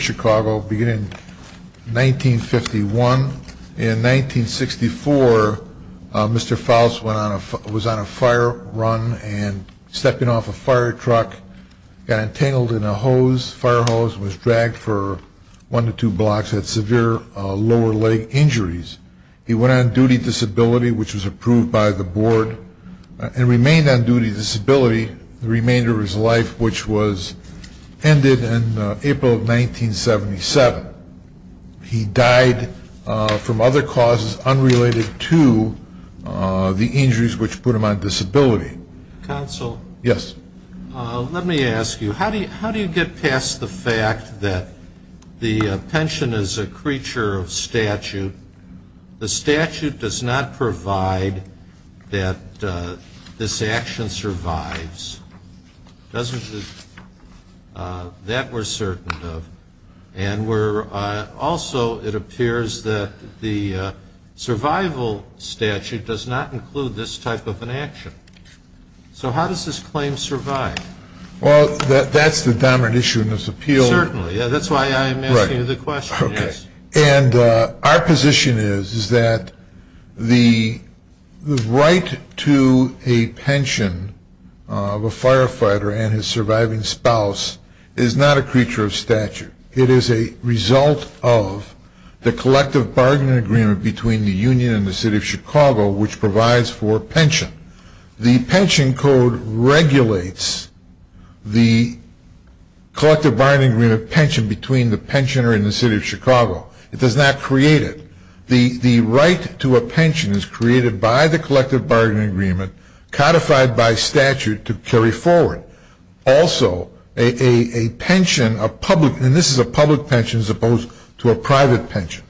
Chicago beginning in 1951. In 1964, Mr. Faust was on a fire run and stepping off a fire truck, got entangled in a fire hose and was dragged for one to two blocks and had severe lower leg injuries. He went on duty disability, which was approved by the board, and remained on duty disability the remainder of his life, which was ended in April of 1977. He died from other causes unrelated to the injuries which put him on disability. How do you get past the fact that the pension is a creature of statute? The statute does not provide that this action survives, does it? That we're certain of. Also, it appears that the survival statute does not include this type of an action. So how does this claim survive? Well, that's the dominant issue in this appeal. Certainly. That's why I'm asking you the question. And our position is that the right to a pension of a firefighter and his surviving spouse is not a creature of statute. It is a result of the collective bargaining agreement between the union and the city of Chicago, which provides for pension. The pension code regulates the collective bargaining agreement pension between the pensioner and the city of Chicago. It does not create it. The right to a pension is created by the collective bargaining agreement, codified by statute to carry forward. Also, a pension, a public, and this is a public pension as opposed to a private pension.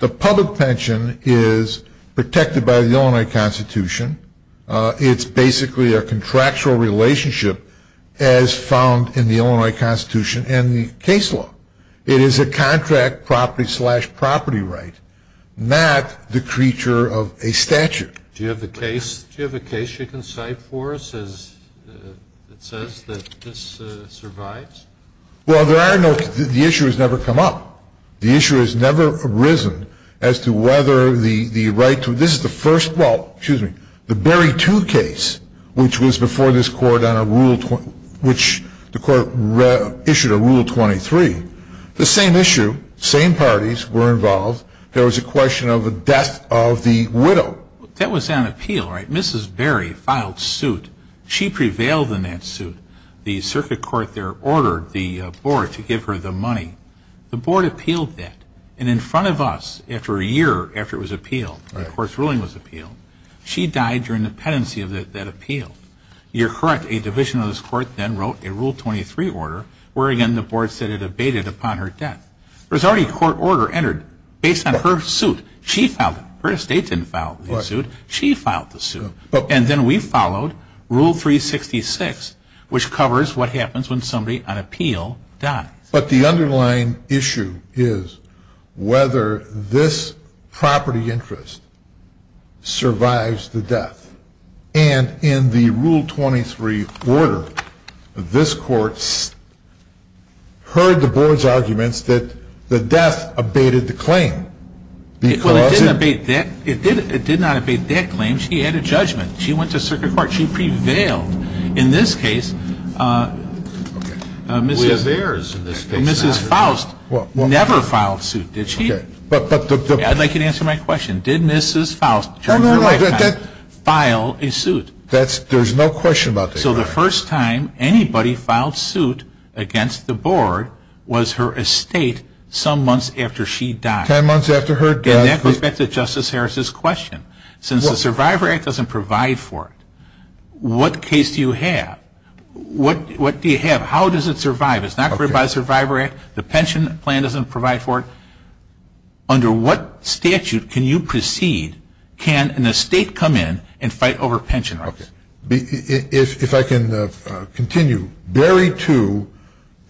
The public pension is protected by the Illinois Constitution. It's basically a contractual relationship as found in the Illinois Constitution and the case law. It is a contract property slash property right, not the creature of a statute. Do you have a case you can cite for us that says that this survives? Well, there are no, the issue has never come up. The issue has never arisen as to whether the right to, this is the first, well, excuse me, the Berry 2 case, which was before this Court on a Rule, which the Court issued a Rule 23. The same issue, same parties were involved. There was a question of the death of the widow. That was on appeal, right? Mrs. Berry filed suit. She prevailed in that suit. The circuit court there ordered the board to give her the money. The board appealed that. And in front of us, after a year after it was appealed, the court's ruling was appealed, she died during the pendency of that appeal. You're correct. A division of this Court then wrote a Rule 23 order, wherein the board said it abated upon her death. There was already a court order entered based on her suit. She filed it. Her estate didn't file the suit. She filed the suit. And then we followed Rule 366, which covers what happens when somebody on appeal dies. But the underlying issue is whether this property interest survives the death. And in the Rule 23 order, this Court heard the board's arguments that the death abated the claim. Well, it did not abate that claim. She had a judgment. She went to circuit court. She prevailed. In this case, Mrs. Faust never filed suit, did she? I'd like you to answer my question. Did Mrs. Faust file a suit? There's no question about that. So the first time anybody filed suit against the board was her estate some months after she died. Ten months after her death. And that goes back to Justice Harris's question. Since the Survivor Act doesn't provide for it, what case do you have? What do you have? How does it survive? It's not created by the Survivor Act. The pension plan doesn't provide for it. Under what statute can you proceed? Can an estate come in and fight over pension rights? If I can continue, Barry 2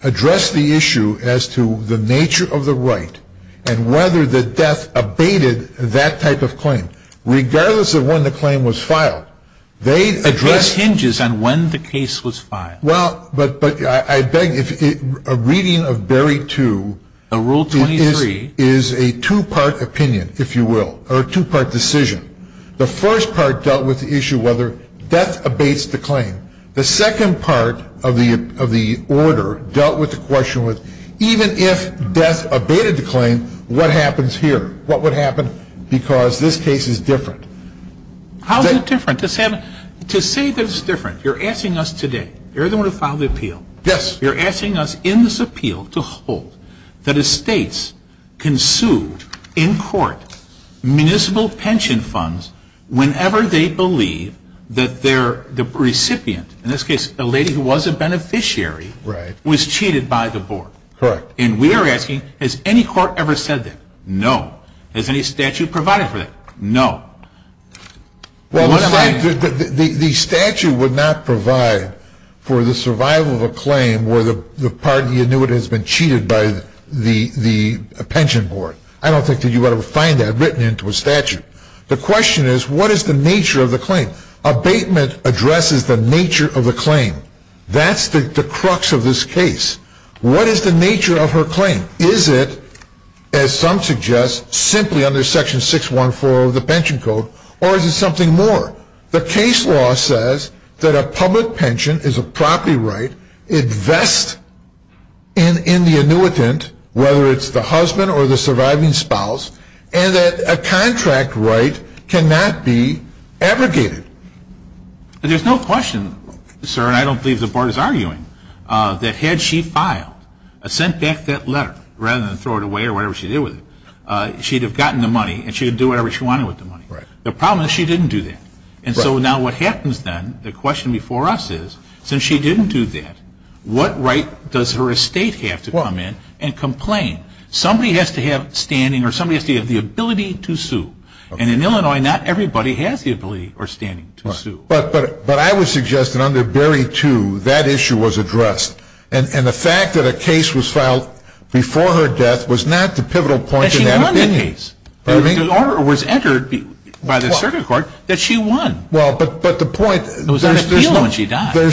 addressed the issue as to the nature of the right and whether the death abated that type of claim, regardless of when the claim was filed. The case hinges on when the case was filed. Well, but I beg you, a reading of Barry 2 is a two-part opinion, if you will, or a two-part decision. The first part dealt with the issue whether death abates the claim. The second part of the order dealt with the question, even if death abated the claim, what happens here? What would happen because this case is different? How is it different? To say that it's different, you're asking us today. You're the one who filed the appeal. Yes. You're asking us in this appeal to hold that estates can sue in court municipal pension funds whenever they believe that the recipient, in this case a lady who was a beneficiary, was cheated by the board. Correct. And we are asking, has any court ever said that? No. Has any statute provided for that? No. Well, the statute would not provide for the survival of a claim where the part of the annuitant has been cheated by the pension board. I don't think that you would ever find that written into a statute. The question is, what is the nature of the claim? Abatement addresses the nature of the claim. That's the crux of this case. What is the nature of her claim? Is it, as some suggest, simply under section 614 of the pension code, or is it something more? The case law says that a public pension is a property right, it vests in the annuitant, whether it's the husband or the surviving spouse, and that a contract right cannot be abrogated. There's no question, sir, and I don't believe the board is arguing, that had she filed, sent back that letter, rather than throw it away or whatever she did with it, she'd have gotten the money and she'd do whatever she wanted with the money. The problem is she didn't do that. And so now what happens then, the question before us is, since she didn't do that, what right does her estate have to come in and complain? Somebody has to have standing or somebody has to have the ability to sue. And in Illinois, not everybody has the ability or standing to sue. But I would suggest that under Berry 2, that issue was addressed. And the fact that a case was filed before her death was not the pivotal point in that opinion. There's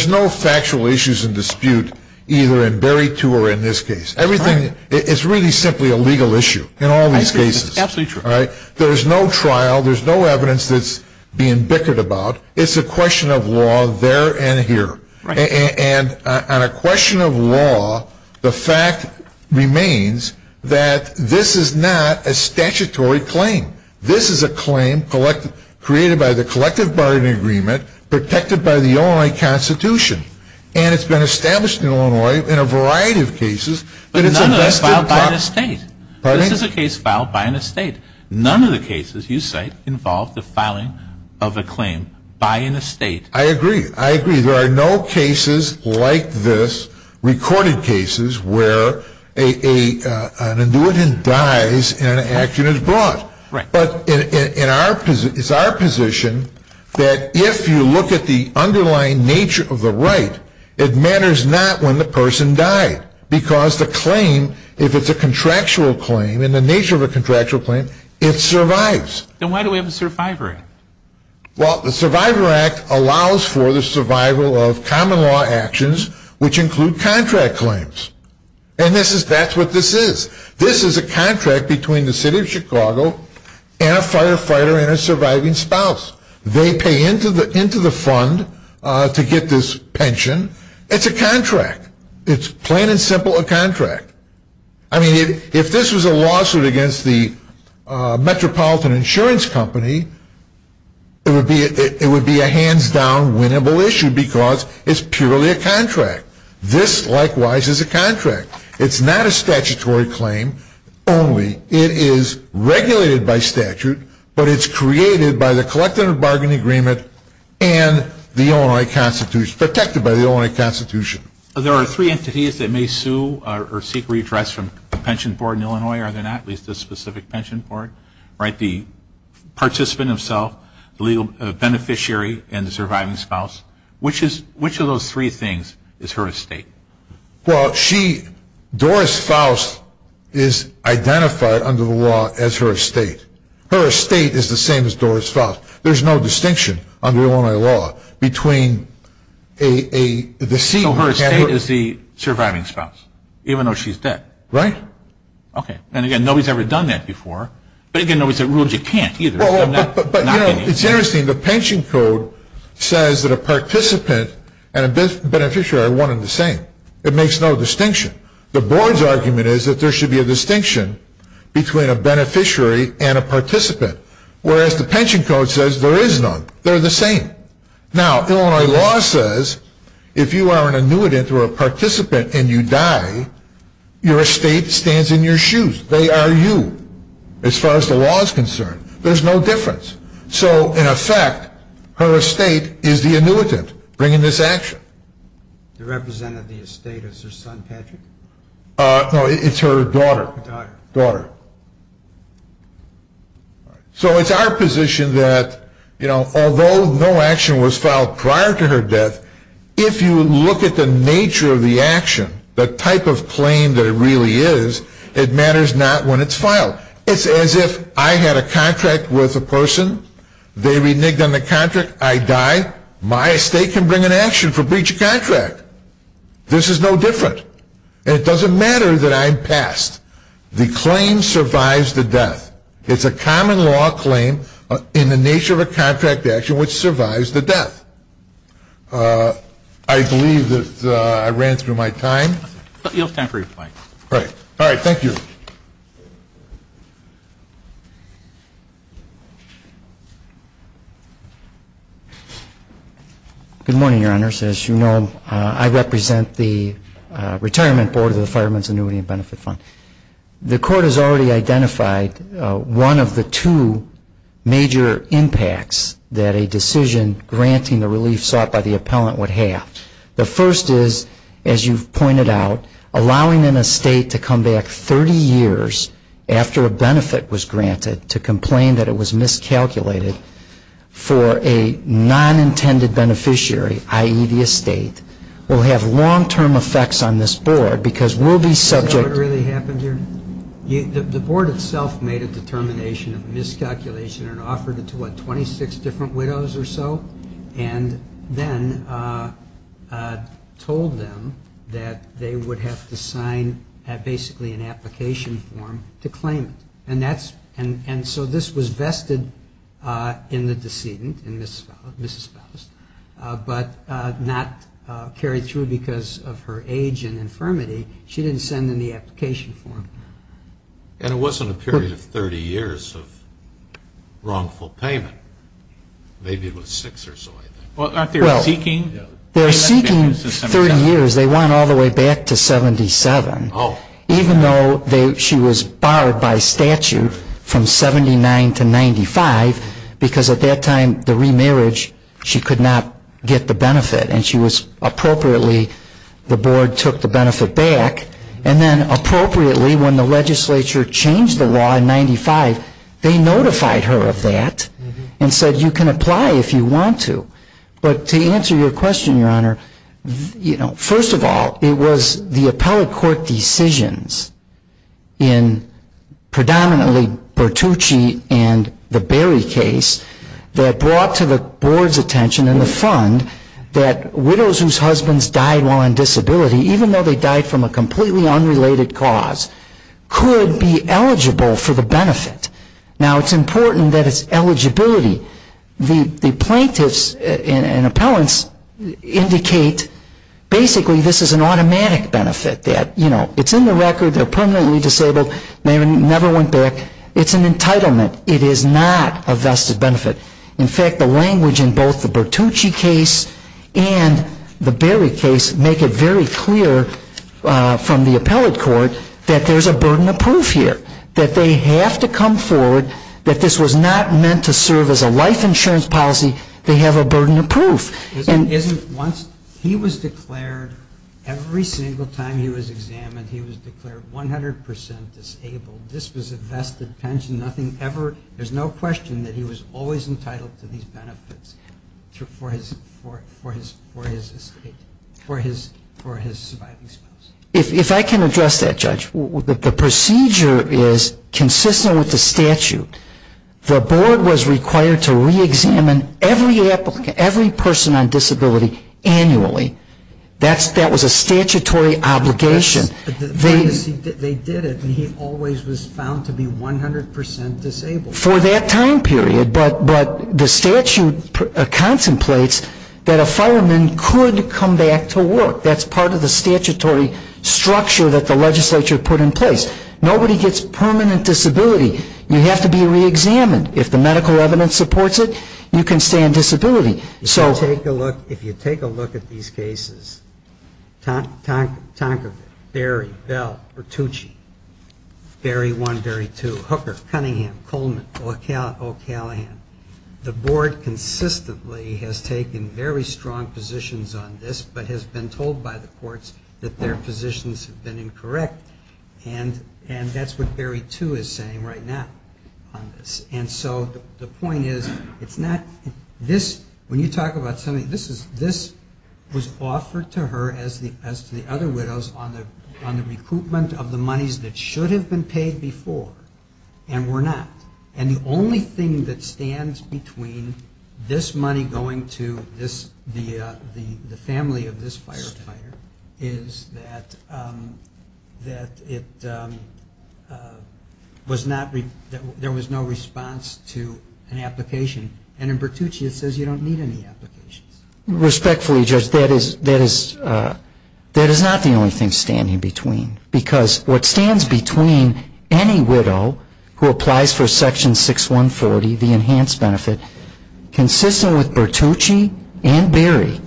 no factual issues in dispute either in Berry 2 or in this case. It's really simply a legal issue in all these cases. There's no trial. There's no evidence that's being bickered about. It's a question of law there and here. And on a question of law, the fact remains that this is not a statutory claim. This is a claim created by the collective bargaining agreement protected by the Illinois Constitution. And it's been established in Illinois in a variety of cases. But none of that is filed by an estate. This is a case filed by an estate. None of the cases you cite involve the filing of a claim by an estate. I agree. I agree. There are no cases like this, recorded cases, where an individual dies and an action is brought. But it's our position that if you look at the underlying nature of the right, it matters not when the person died. Because the claim, if it's a contractual claim and the nature of a contractual claim, it survives. Then why do we have a Survivor Act? Well, the Survivor Act allows for the survival of common law actions, which include contract claims. And that's what this is. This is a contract between the city of Chicago and a firefighter and a surviving spouse. They pay into the fund to get this pension. It's a contract. It's plain and simple a contract. I mean, if this was a lawsuit against the Metropolitan Insurance Company, it would be a hands-down winnable issue because it's purely a contract. This, likewise, is a contract. It's not a statutory claim only. It is regulated by statute. But it's created by the collective bargaining agreement and the Illinois Constitution, protected by the Illinois Constitution. There are three entities that may sue or seek redress from a pension board in Illinois, are there not? At least a specific pension board, right? The participant himself, the legal beneficiary, and the surviving spouse. Which of those three things is her estate? Well, Doris Faust is identified under the law as her estate. Her estate is the same as Doris Faust. There's no distinction under Illinois law between a... So her estate is the surviving spouse, even though she's dead. Right. Okay. And again, nobody's ever done that before. But again, nobody's ever ruled you can't either. But, you know, it's interesting. The pension code says that a participant and a beneficiary are one and the same. It makes no distinction. The board's argument is that there should be a distinction between a beneficiary and a participant. Whereas the pension code says there is none. They're the same. Now, Illinois law says if you are an annuitant or a participant and you die, your estate stands in your shoes. They are you, as far as the law is concerned. There's no difference. So, in effect, her estate is the annuitant bringing this action. The representative of the estate is her son, Patrick? No, it's her daughter. Daughter. So it's our position that, you know, although no action was filed prior to her death, if you look at the nature of the action, the type of claim that it really is, it matters not when it's filed. It's as if I had a contract with a person, they reneged on the contract, I die, my estate can bring an action for breach of contract. This is no different. And it doesn't matter that I'm passed. The claim survives the death. It's a common law claim in the nature of a contract action which survives the death. I believe that I ran through my time. You have time for your point. All right. Thank you. Good morning, Your Honors. As you know, I represent the Retirement Board of the Fireman's Annuity and Benefit Fund. The Court has already identified one of the two major impacts that a decision granting the relief sought by the appellant would have. The first is, as you've pointed out, allowing an estate to come back 30 years after a benefit was granted to complain that it was miscalculated for a non-intended beneficiary, i.e., the estate, will have long-term effects on this Board because we'll be subject to You know what really happened here? The Board itself made a determination of miscalculation and offered it to, what, 26 different widows or so? And then told them that they would have to sign basically an application form to claim it. And so this was vested in the decedent, in Miss Espoused, but not carried through because of her age and infirmity. She didn't send in the application form. And it wasn't a period of 30 years of wrongful payment. Maybe it was six or so, I think. Well, aren't they seeking? They're seeking 30 years. They want all the way back to 77. Oh. Even though she was barred by statute from 79 to 95 because at that time, the remarriage, she could not get the benefit. And she was appropriately, the Board took the benefit back. And then appropriately, when the legislature changed the law in 95, they notified her of that and said you can apply if you want to. But to answer your question, Your Honor, first of all, it was the appellate court decisions in predominantly Bertucci and the Berry case that brought to the Board's attention in the fund that widows whose husbands died while on disability, even though they died from a completely unrelated cause, could be eligible for the benefit. Now, it's important that it's eligibility. The plaintiffs and appellants indicate basically this is an automatic benefit that, you know, it's in the record. They're permanently disabled. They never went back. It's an entitlement. It is not a vested benefit. In fact, the language in both the Bertucci case and the Berry case make it very clear from the appellate court that there's a burden of proof here, that they have to come forward, that this was not meant to serve as a life insurance policy. They have a burden of proof. He was declared, every single time he was examined, he was declared 100% disabled. This was a vested pension. There's no question that he was always entitled to these benefits for his surviving spouse. If I can address that, Judge, the procedure is consistent with the statute. The Board was required to reexamine every person on disability annually. That was a statutory obligation. They did it, and he always was found to be 100% disabled. For that time period, but the statute contemplates that a fireman could come back to work. That's part of the statutory structure that the legislature put in place. Nobody gets permanent disability. You have to be reexamined. If the medical evidence supports it, you can stay in disability. If you take a look at these cases, Tonker, Berry, Bell, Bertucci, Berry 1, Berry 2, Hooker, Cunningham, Coleman, O'Callaghan, the Board consistently has taken very strong positions on this, but has been told by the courts that their positions have been incorrect. And that's what Berry 2 is saying right now on this. And so the point is, it's not this, when you talk about something, this was offered to her, as to the other widows, on the recoupment of the monies that should have been paid before and were not. And the only thing that stands between this money going to the family of this firefighter is that it was not, there was no response to an application. And in Bertucci it says you don't need any applications. Respectfully, Judge, that is not the only thing standing between. Because what stands between any widow who applies for Section 6140, the enhanced benefit, consistent with Bertucci and Berry,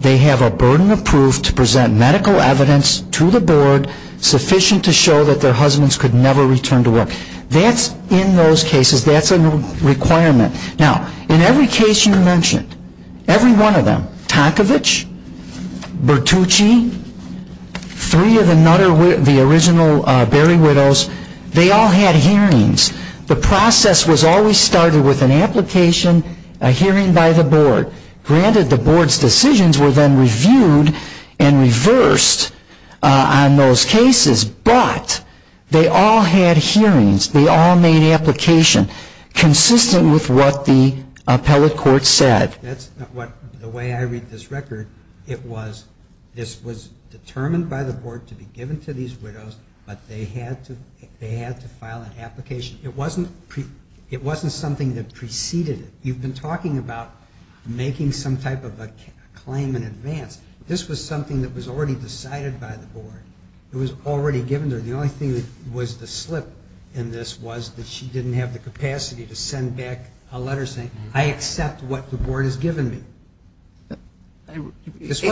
they have a burden of proof to present medical evidence to the Board sufficient to show that their husbands could never return to work. That's in those cases, that's a requirement. Now, in every case you mentioned, every one of them, Tonkovich, Bertucci, three of the original Berry widows, they all had hearings. The process was always started with an application, a hearing by the Board. Granted, the Board's decisions were then reviewed and reversed on those cases, but they all had hearings, they all made application consistent with what the appellate court said. That's not what, the way I read this record, it was, this was determined by the Board to be given to these widows, but they had to file an application. It wasn't something that preceded it. You've been talking about making some type of a claim in advance. This was something that was already decided by the Board. It was already given to her. The only thing that was the slip in this was that she didn't have the capacity to send back a letter saying, I accept what the Board has given me. This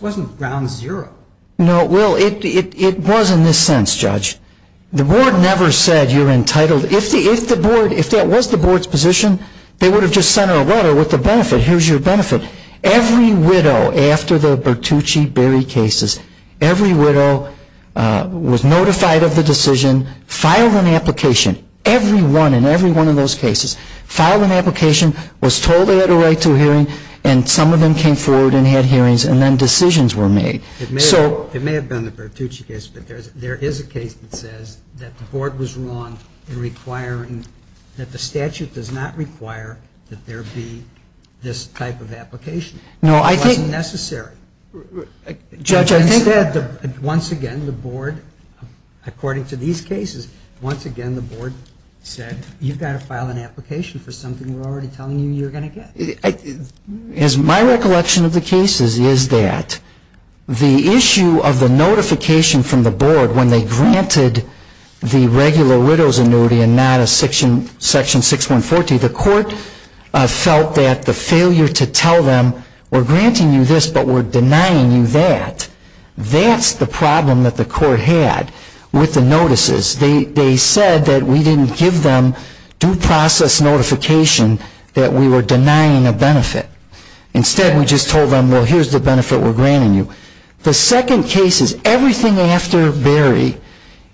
wasn't ground zero. No, well, it was in this sense, Judge. The Board never said you're entitled, if the Board, if that was the Board's position, they would have just sent her a letter with the benefit, here's your benefit. Every widow, after the Bertucci-Berry cases, every widow was notified of the decision, filed an application, every one and every one of those cases, filed an application, was told they had a right to a hearing, and some of them came forward and had hearings, and then decisions were made. It may have been the Bertucci case, but there is a case that says that the Board was wrong in requiring, that the statute does not require that there be this type of application. No, I think. It wasn't necessary. Judge, I think. Instead, once again, the Board, according to these cases, once again, the Board said, you've got to file an application for something we're already telling you you're going to get. As my recollection of the cases is that the issue of the notification from the Board when they granted the regular widow's annuity and not a Section 6142, the Court felt that the failure to tell them, we're granting you this, but we're denying you that, that's the problem that the Court had with the notices. They said that we didn't give them due process notification that we were denying a benefit. Instead, we just told them, well, here's the benefit we're granting you. The second case is everything after Barry,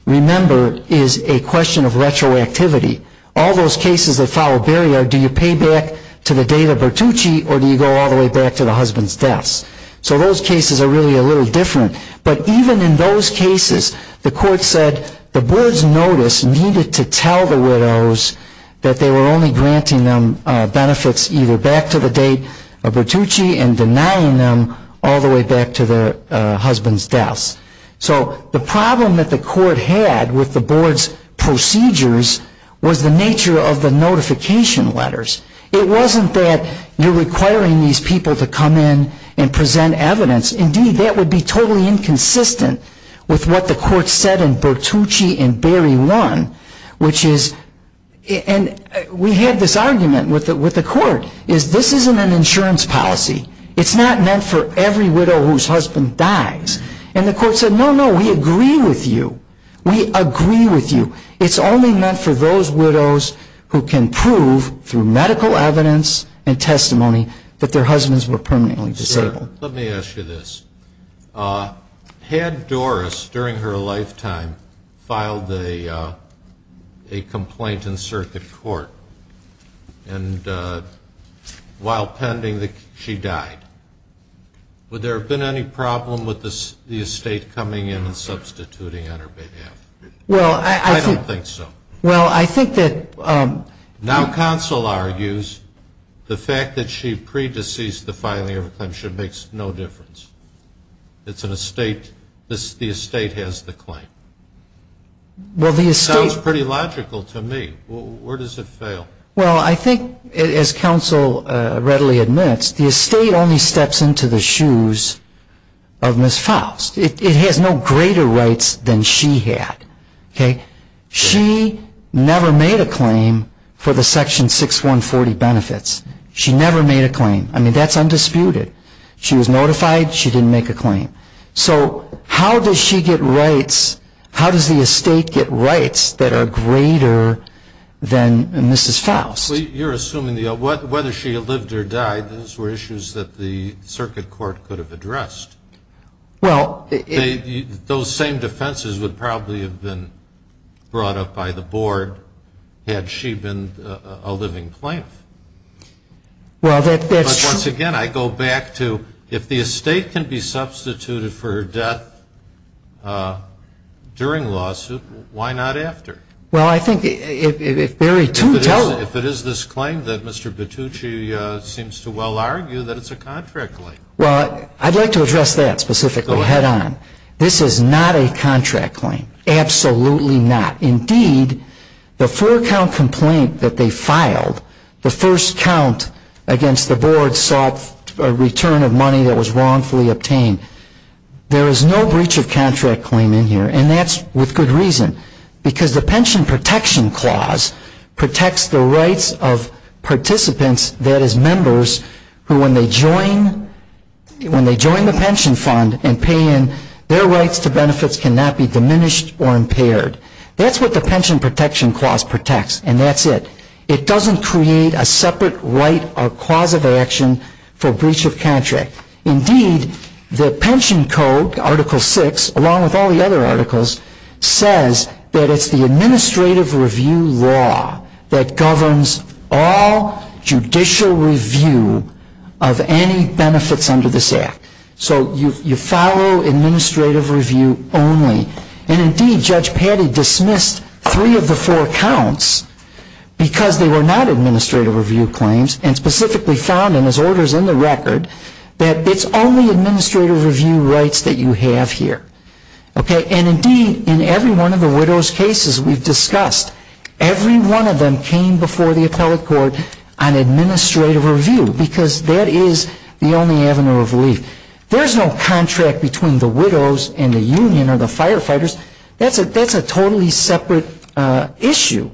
remember, is a question of retroactivity. All those cases that follow Barry are, do you pay back to the date of Bertucci or do you go all the way back to the husband's deaths? So those cases are really a little different. But even in those cases, the Court said the Board's notice needed to tell the widows that they were only granting them benefits either back to the date of Bertucci and denying them all the way back to their husband's deaths. So the problem that the Court had with the Board's procedures was the nature of the notification letters. It wasn't that you're requiring these people to come in and present evidence. Indeed, that would be totally inconsistent with what the Court said in Bertucci and Barry 1, which is, and we had this argument with the Court, is this isn't an insurance policy. It's not meant for every widow whose husband dies. And the Court said, no, no, we agree with you. We agree with you. It's only meant for those widows who can prove through medical evidence and testimony that their husbands were permanently disabled. Let me ask you this. Had Doris, during her lifetime, filed a complaint in circuit court while pending that she died, would there have been any problem with the estate coming in and substituting on her behalf? I don't think so. Well, I think that... Now counsel argues the fact that she pre-deceased the filing of a claim makes no difference. It's an estate. The estate has the claim. It sounds pretty logical to me. Where does it fail? Well, I think, as counsel readily admits, the estate only steps into the shoes of Ms. Faust. It has no greater rights than she had. She never made a claim for the Section 6140 benefits. She never made a claim. I mean, that's undisputed. She was notified. She didn't make a claim. So how does she get rights? How does the estate get rights that are greater than Ms. Faust? You're assuming whether she lived or died, those were issues that the circuit court could have addressed. Well... Those same defenses would probably have been brought up by the board had she been a living plaintiff. Well, that's true. But once again, I go back to if the estate can be substituted for her death during a lawsuit, why not after? Well, I think if there are two... If it is this claim that Mr. Battucci seems to well argue that it's a contract claim. Well, I'd like to address that specifically head-on. This is not a contract claim. Absolutely not. Indeed, the four-count complaint that they filed, the first count against the board sought a return of money that was wrongfully obtained. There is no breach of contract claim in here, and that's with good reason. Because the Pension Protection Clause protects the rights of participants, that is members, who when they join the pension fund and pay in, their rights to benefits cannot be diminished or impaired. That's what the Pension Protection Clause protects, and that's it. It doesn't create a separate right or clause of action for breach of contract. Indeed, the Pension Code, Article VI, along with all the other articles, says that it's the administrative review law that governs all judicial review of any benefits under this Act. So you follow administrative review only. And indeed, Judge Patty dismissed three of the four counts because they were not administrative review claims and specifically found in his orders in the record that it's only administrative review rights that you have here. And indeed, in every one of the widow's cases we've discussed, every one of them came before the appellate court on administrative review because that is the only avenue of relief. There's no contract between the widows and the union or the firefighters. That's a totally separate issue.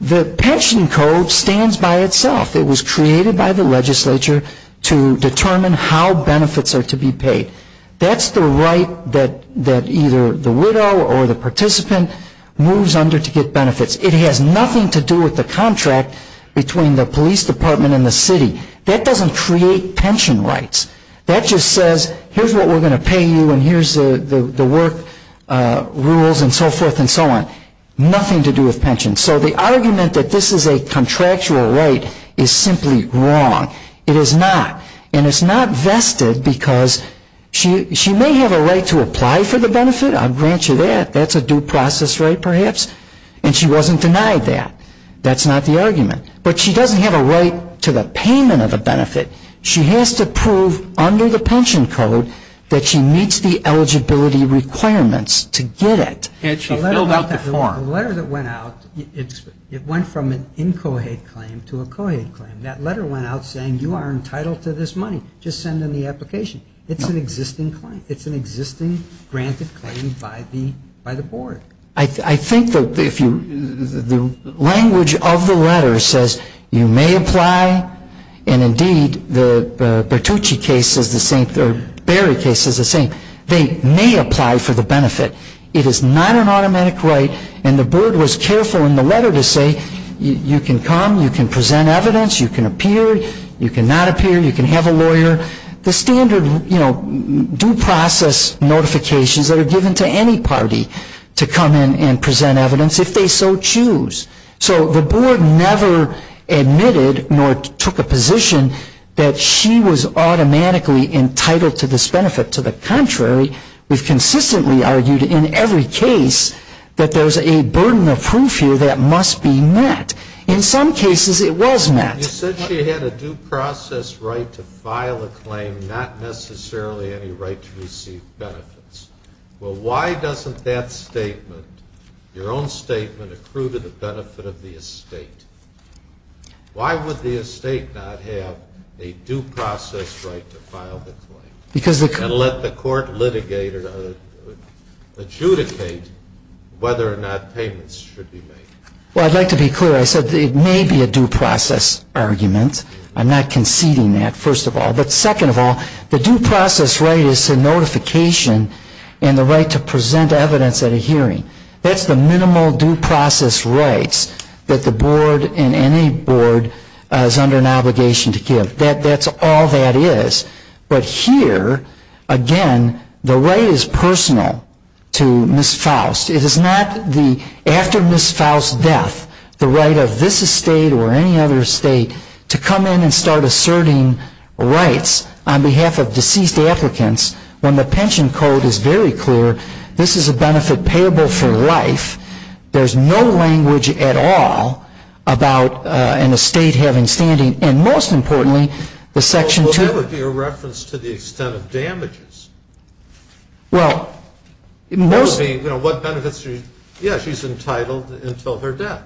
The Pension Code stands by itself. It was created by the legislature to determine how benefits are to be paid. That's the right that either the widow or the participant moves under to get benefits. It has nothing to do with the contract between the police department and the city. That doesn't create pension rights. That just says, here's what we're going to pay you and here's the work rules and so forth and so on. Nothing to do with pension. So the argument that this is a contractual right is simply wrong. It is not. And it's not vested because she may have a right to apply for the benefit. I'll grant you that. That's a due process right perhaps. And she wasn't denied that. That's not the argument. But she doesn't have a right to the payment of a benefit. She has to prove under the Pension Code that she meets the eligibility requirements to get it. And she filled out the form. The letter that went out, it went from an incohate claim to a cohate claim. That letter went out saying you are entitled to this money. Just send in the application. It's an existing claim. It's an existing granted claim by the board. I think that if you, the language of the letter says you may apply and, indeed, the Bertucci case is the same, the Berry case is the same. They may apply for the benefit. It is not an automatic right. And the board was careful in the letter to say you can come. You can present evidence. You can appear. You cannot appear. You can have a lawyer. The standard, you know, due process notifications that are given to any party to come in and present evidence if they so choose. So the board never admitted nor took a position that she was automatically entitled to this benefit. To the contrary, we've consistently argued in every case that there's a burden of proof here that must be met. In some cases it was met. You said she had a due process right to file a claim, not necessarily any right to receive benefits. Well, why doesn't that statement, your own statement, accrue to the benefit of the estate? Why would the estate not have a due process right to file the claim? And let the court litigate or adjudicate whether or not payments should be made. Well, I'd like to be clear. I said it may be a due process argument. I'm not conceding that, first of all. But second of all, the due process right is a notification and the right to present evidence at a hearing. That's the minimal due process rights that the board and any board is under an obligation to give. That's all that is. But here, again, the right is personal to Ms. Faust. It is not after Ms. Faust's death, the right of this estate or any other estate to come in and start asserting rights on behalf of deceased applicants when the pension code is very clear this is a benefit payable for life. There's no language at all about an estate having standing. And most importantly, the section 2. Well, that would be a reference to the extent of damages. Well, most. You know, what benefits? Yeah, she's entitled until her death.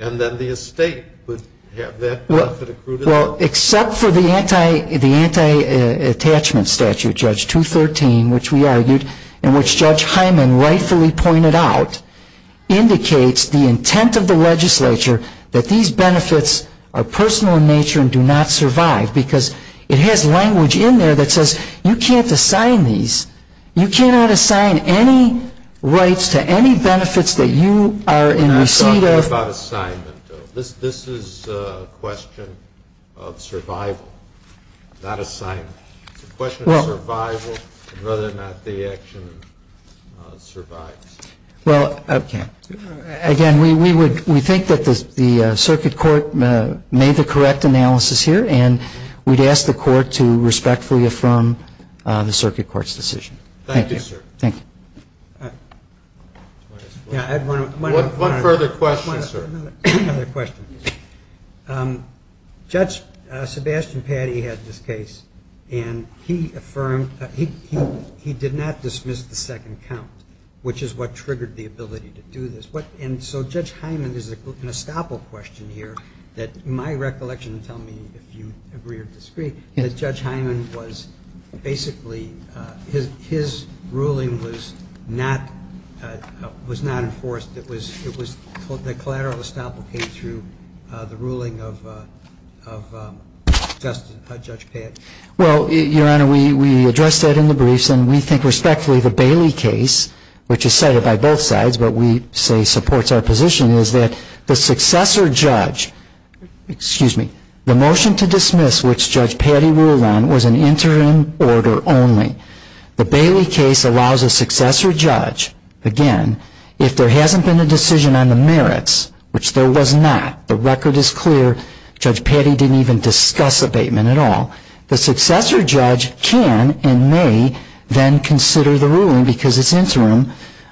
And then the estate would have that benefit accrued. Well, except for the anti-attachment statute, Judge 213, which we argued and which Judge Hyman rightfully pointed out, indicates the intent of the legislature that these benefits are personal in nature and do not survive. Because it has language in there that says you can't assign these. You cannot assign any rights to any benefits that you are in receipt of. I'm not talking about assignment, though. This is a question of survival, not assignment. It's a question of survival and whether or not the action survives. Well, again, we think that the circuit court made the correct analysis here, and we'd ask the court to respectfully affirm the circuit court's decision. Thank you, sir. Thank you. One further question, sir. One other question. Judge Sebastian Patti had this case, and he affirmed he did not dismiss the second count, which is what triggered the ability to do this. And so Judge Hyman, there's an estoppel question here that in my recollection, tell me if you agree or disagree, that Judge Hyman was basically his ruling was not enforced. It was the collateral estoppel came through the ruling of Judge Patti. Well, Your Honor, we addressed that in the briefs. And we think respectfully the Bailey case, which is cited by both sides, but we say supports our position, is that the successor judge, excuse me, the motion to dismiss which Judge Patti ruled on was an interim order only. The Bailey case allows a successor judge, again, if there hasn't been a decision on the merits, which there was not. The record is clear. Judge Patti didn't even discuss abatement at all. The successor judge can and may then consider the ruling because it's interim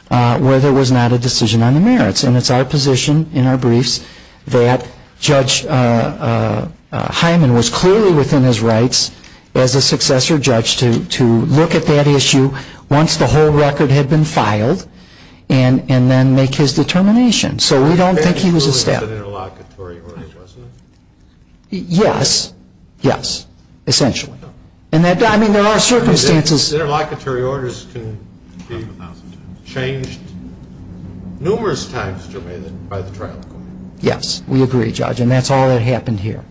where there was not a decision on the merits. And it's our position in our briefs that Judge Hyman was clearly within his rights as a successor judge to look at that issue once the whole record had been filed and then make his determination. So we don't think he was a step. So the Bailey case ruling was an interlocutory order, wasn't it? Yes. Yes. Essentially. And that, I mean, there are circumstances. Interlocutory orders can be changed numerous times by the trial court. Yes. We agree, Judge. And that's all that happened here.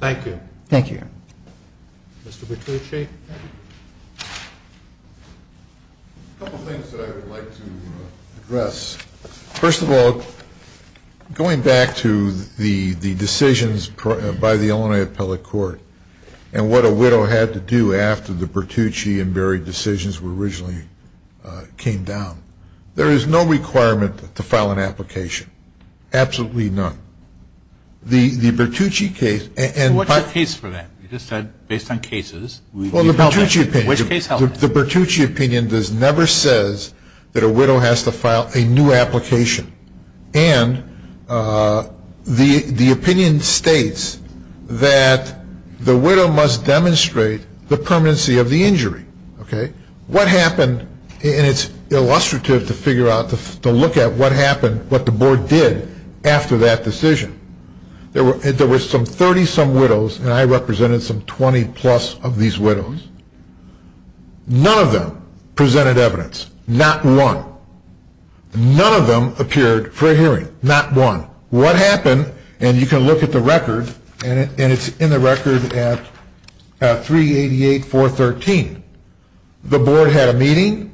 Thank you. Thank you. Mr. Petrucci. A couple things that I would like to address. First of all, going back to the decisions by the Illinois Appellate Court and what a widow had to do after the Petrucci and Berry decisions were originally came down, there is no requirement to file an application. Absolutely none. The Petrucci case and What's the case for that? You just said based on cases. Well, the Petrucci opinion. Which case held that? Well, the Petrucci opinion never says that a widow has to file a new application. And the opinion states that the widow must demonstrate the permanency of the injury. Okay. What happened, and it's illustrative to figure out, to look at what happened, what the board did after that decision. There were some 30-some widows, and I represented some 20-plus of these widows. None of them presented evidence. Not one. None of them appeared for a hearing. Not one. What happened, and you can look at the record, and it's in the record at 388.413. The board had a meeting.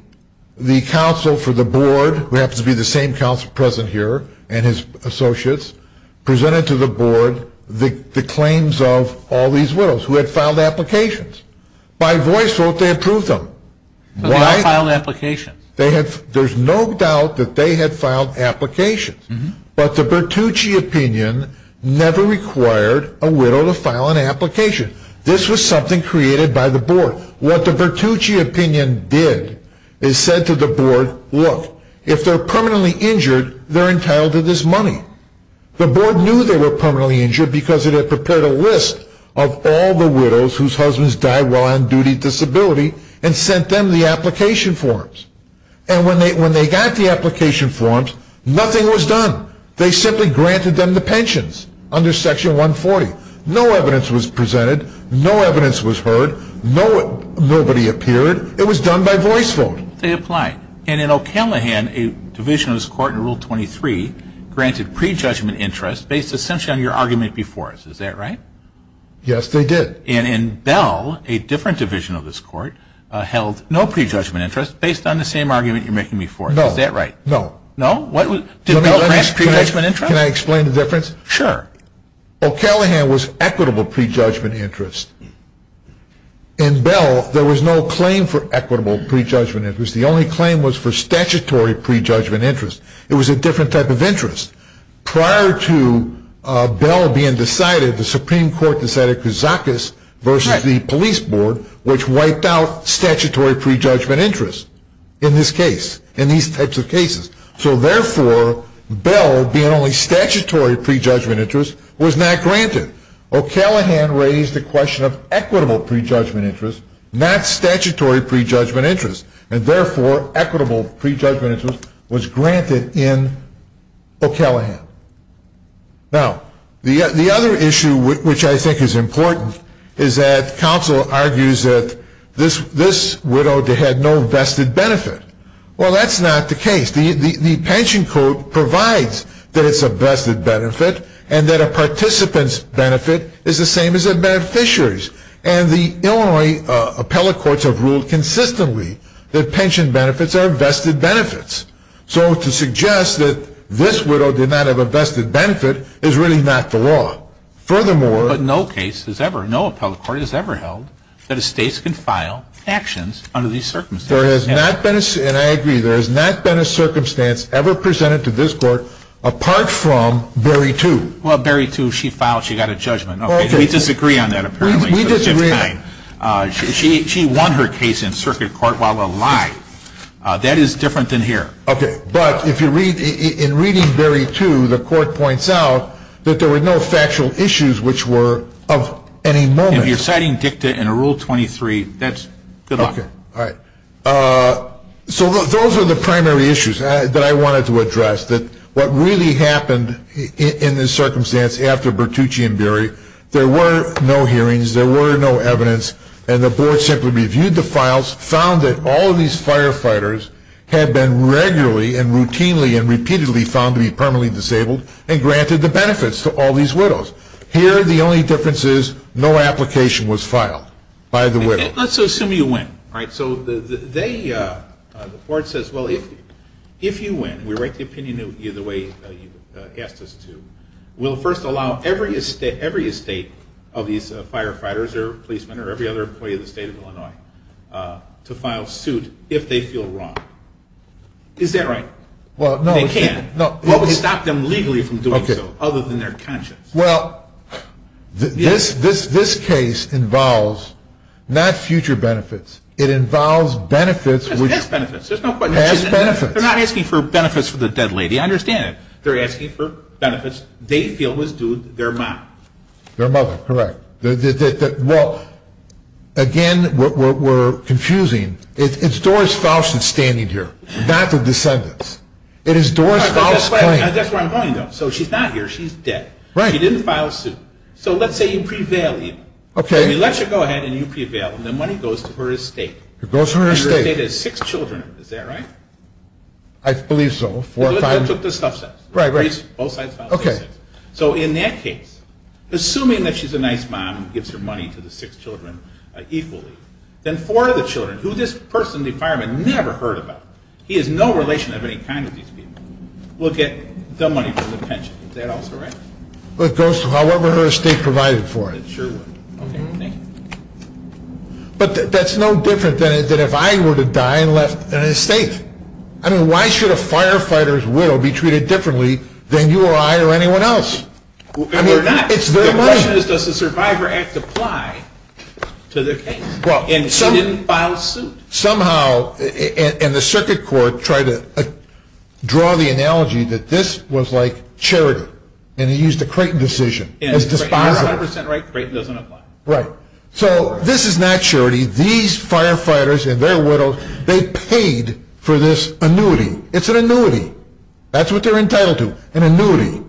The counsel for the board, who happens to be the same counsel present here and his associates, presented to the board the claims of all these widows who had filed applications. By voice vote, they approved them. Why? They had filed applications. There's no doubt that they had filed applications. But the Petrucci opinion never required a widow to file an application. This was something created by the board. What the Petrucci opinion did is said to the board, look, if they're permanently injured, they're entitled to this money. The board knew they were permanently injured because it had prepared a list of all the widows whose husbands died while on duty disability and sent them the application forms. And when they got the application forms, nothing was done. They simply granted them the pensions under Section 140. No evidence was presented. No evidence was heard. Nobody appeared. It was done by voice vote. They applied. And in O'Callaghan, a division of this court in Rule 23 granted prejudgment interest based essentially on your argument before us. Is that right? Yes, they did. And in Bell, a different division of this court, held no prejudgment interest based on the same argument you're making before us. No. Is that right? No. No? Did Bell grant prejudgment interest? Can I explain the difference? Sure. O'Callaghan was equitable prejudgment interest. In Bell, there was no claim for equitable prejudgment interest. The only claim was for statutory prejudgment interest. It was a different type of interest. Prior to Bell being decided, the Supreme Court decided Kousakis versus the police board, which wiped out statutory prejudgment interest in this case, in these types of cases. So, therefore, Bell, being only statutory prejudgment interest, was not granted. O'Callaghan raised the question of equitable prejudgment interest, not statutory prejudgment interest. And, therefore, equitable prejudgment interest was granted in O'Callaghan. Now, the other issue, which I think is important, is that counsel argues that this widow had no vested benefit. Well, that's not the case. The pension code provides that it's a vested benefit and that a participant's benefit is the same as a beneficiary's. And the Illinois appellate courts have ruled consistently that pension benefits are vested benefits. So, to suggest that this widow did not have a vested benefit is really not the law. Furthermore... But no case has ever, no appellate court has ever held that a state can file actions under these circumstances. There has not been, and I agree, there has not been a circumstance ever presented to this court apart from Berry 2. Well, Berry 2, she filed, she got a judgment. We disagree on that, apparently. We disagree. She won her case in circuit court while a lie. That is different than here. Okay, but if you read, in reading Berry 2, the court points out that there were no factual issues which were of any moment. If you're citing dicta in Rule 23, that's, good luck. Okay, all right. So, those are the primary issues that I wanted to address, that what really happened in this circumstance after Bertucci and Berry, there were no hearings, there were no evidence, and the board simply reviewed the files, found that all of these firefighters had been regularly and routinely and repeatedly found to be permanently disabled and granted the benefits to all these widows. Here, the only difference is no application was filed by the widow. Let's assume you win, right? So, they, the board says, well, if you win, we write the opinion the way you asked us to, we'll first allow every estate of these firefighters or policemen or every other employee of the state of Illinois to file suit if they feel wrong. Is that right? Well, no. They can't. What would stop them legally from doing so other than their conscience? Well, this case involves not future benefits. It involves benefits. It has benefits. It has benefits. They're not asking for benefits for the dead lady. I understand it. They're asking for benefits they feel was due their mom. Their mother, correct. Well, again, we're confusing. It's Doris Faust that's standing here, not the descendants. It is Doris Faust's claim. That's where I'm going, though. So, she's not here. She's dead. Right. She didn't file suit. So, let's say you prevail. Okay. We let you go ahead and you prevail, and the money goes to her estate. It goes to her estate. And her estate has six children. Is that right? I believe so. Four or five. That took the stuff sets. Right, right. Both sides filed for six. Okay. So, in that case, assuming that she's a nice mom and gives her money to the six children equally, then four of the children, who this person, the fireman, never heard about. He has no relation of any kind to these people, will get the money for the pension. Is that also right? It goes to however her estate provided for it. It sure would. Okay. Thank you. But that's no different than if I were to die and left an estate. I mean, why should a firefighter's widow be treated differently than you or I or anyone else? I mean, it's their money. The question is, does the Survivor Act apply to their case? And she didn't file suit. Somehow, and the circuit court tried to draw the analogy that this was like charity. And they used the Creighton decision. You're 100% right. Creighton doesn't apply. Right. So, this is not charity. These firefighters and their widows, they paid for this annuity. It's an annuity. That's what they're entitled to, an annuity.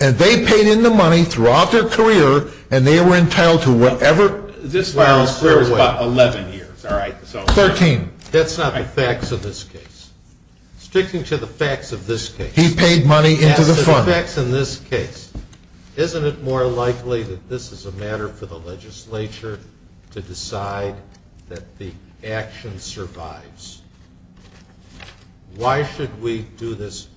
And they paid in the money throughout their career, and they were entitled to whatever... This file is about 11 years. 13. That's not the facts of this case. Strictly to the facts of this case. He paid money into the fund. Yes, the facts in this case. Isn't it more likely that this is a matter for the legislature to decide that the action survives? Why should we do this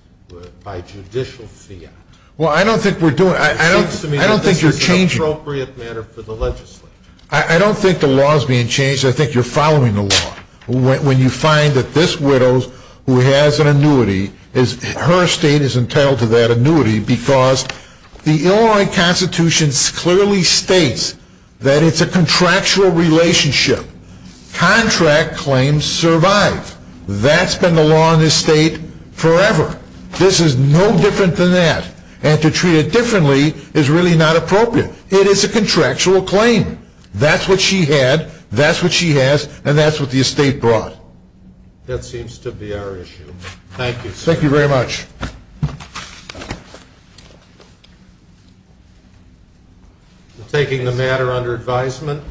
by judicial fiat? Well, I don't think we're doing... It seems to me that this is an appropriate matter for the legislature. I don't think the law is being changed. I think you're following the law. When you find that this widow who has an annuity, her estate is entitled to that annuity, because the Illinois Constitution clearly states that it's a contractual relationship. Contract claims survive. That's been the law in this state forever. This is no different than that. And to treat it differently is really not appropriate. It is a contractual claim. That's what she had, that's what she has, and that's what the estate brought. That seems to be our issue. Thank you, sir. Thank you very much. We're taking the matter under advisement.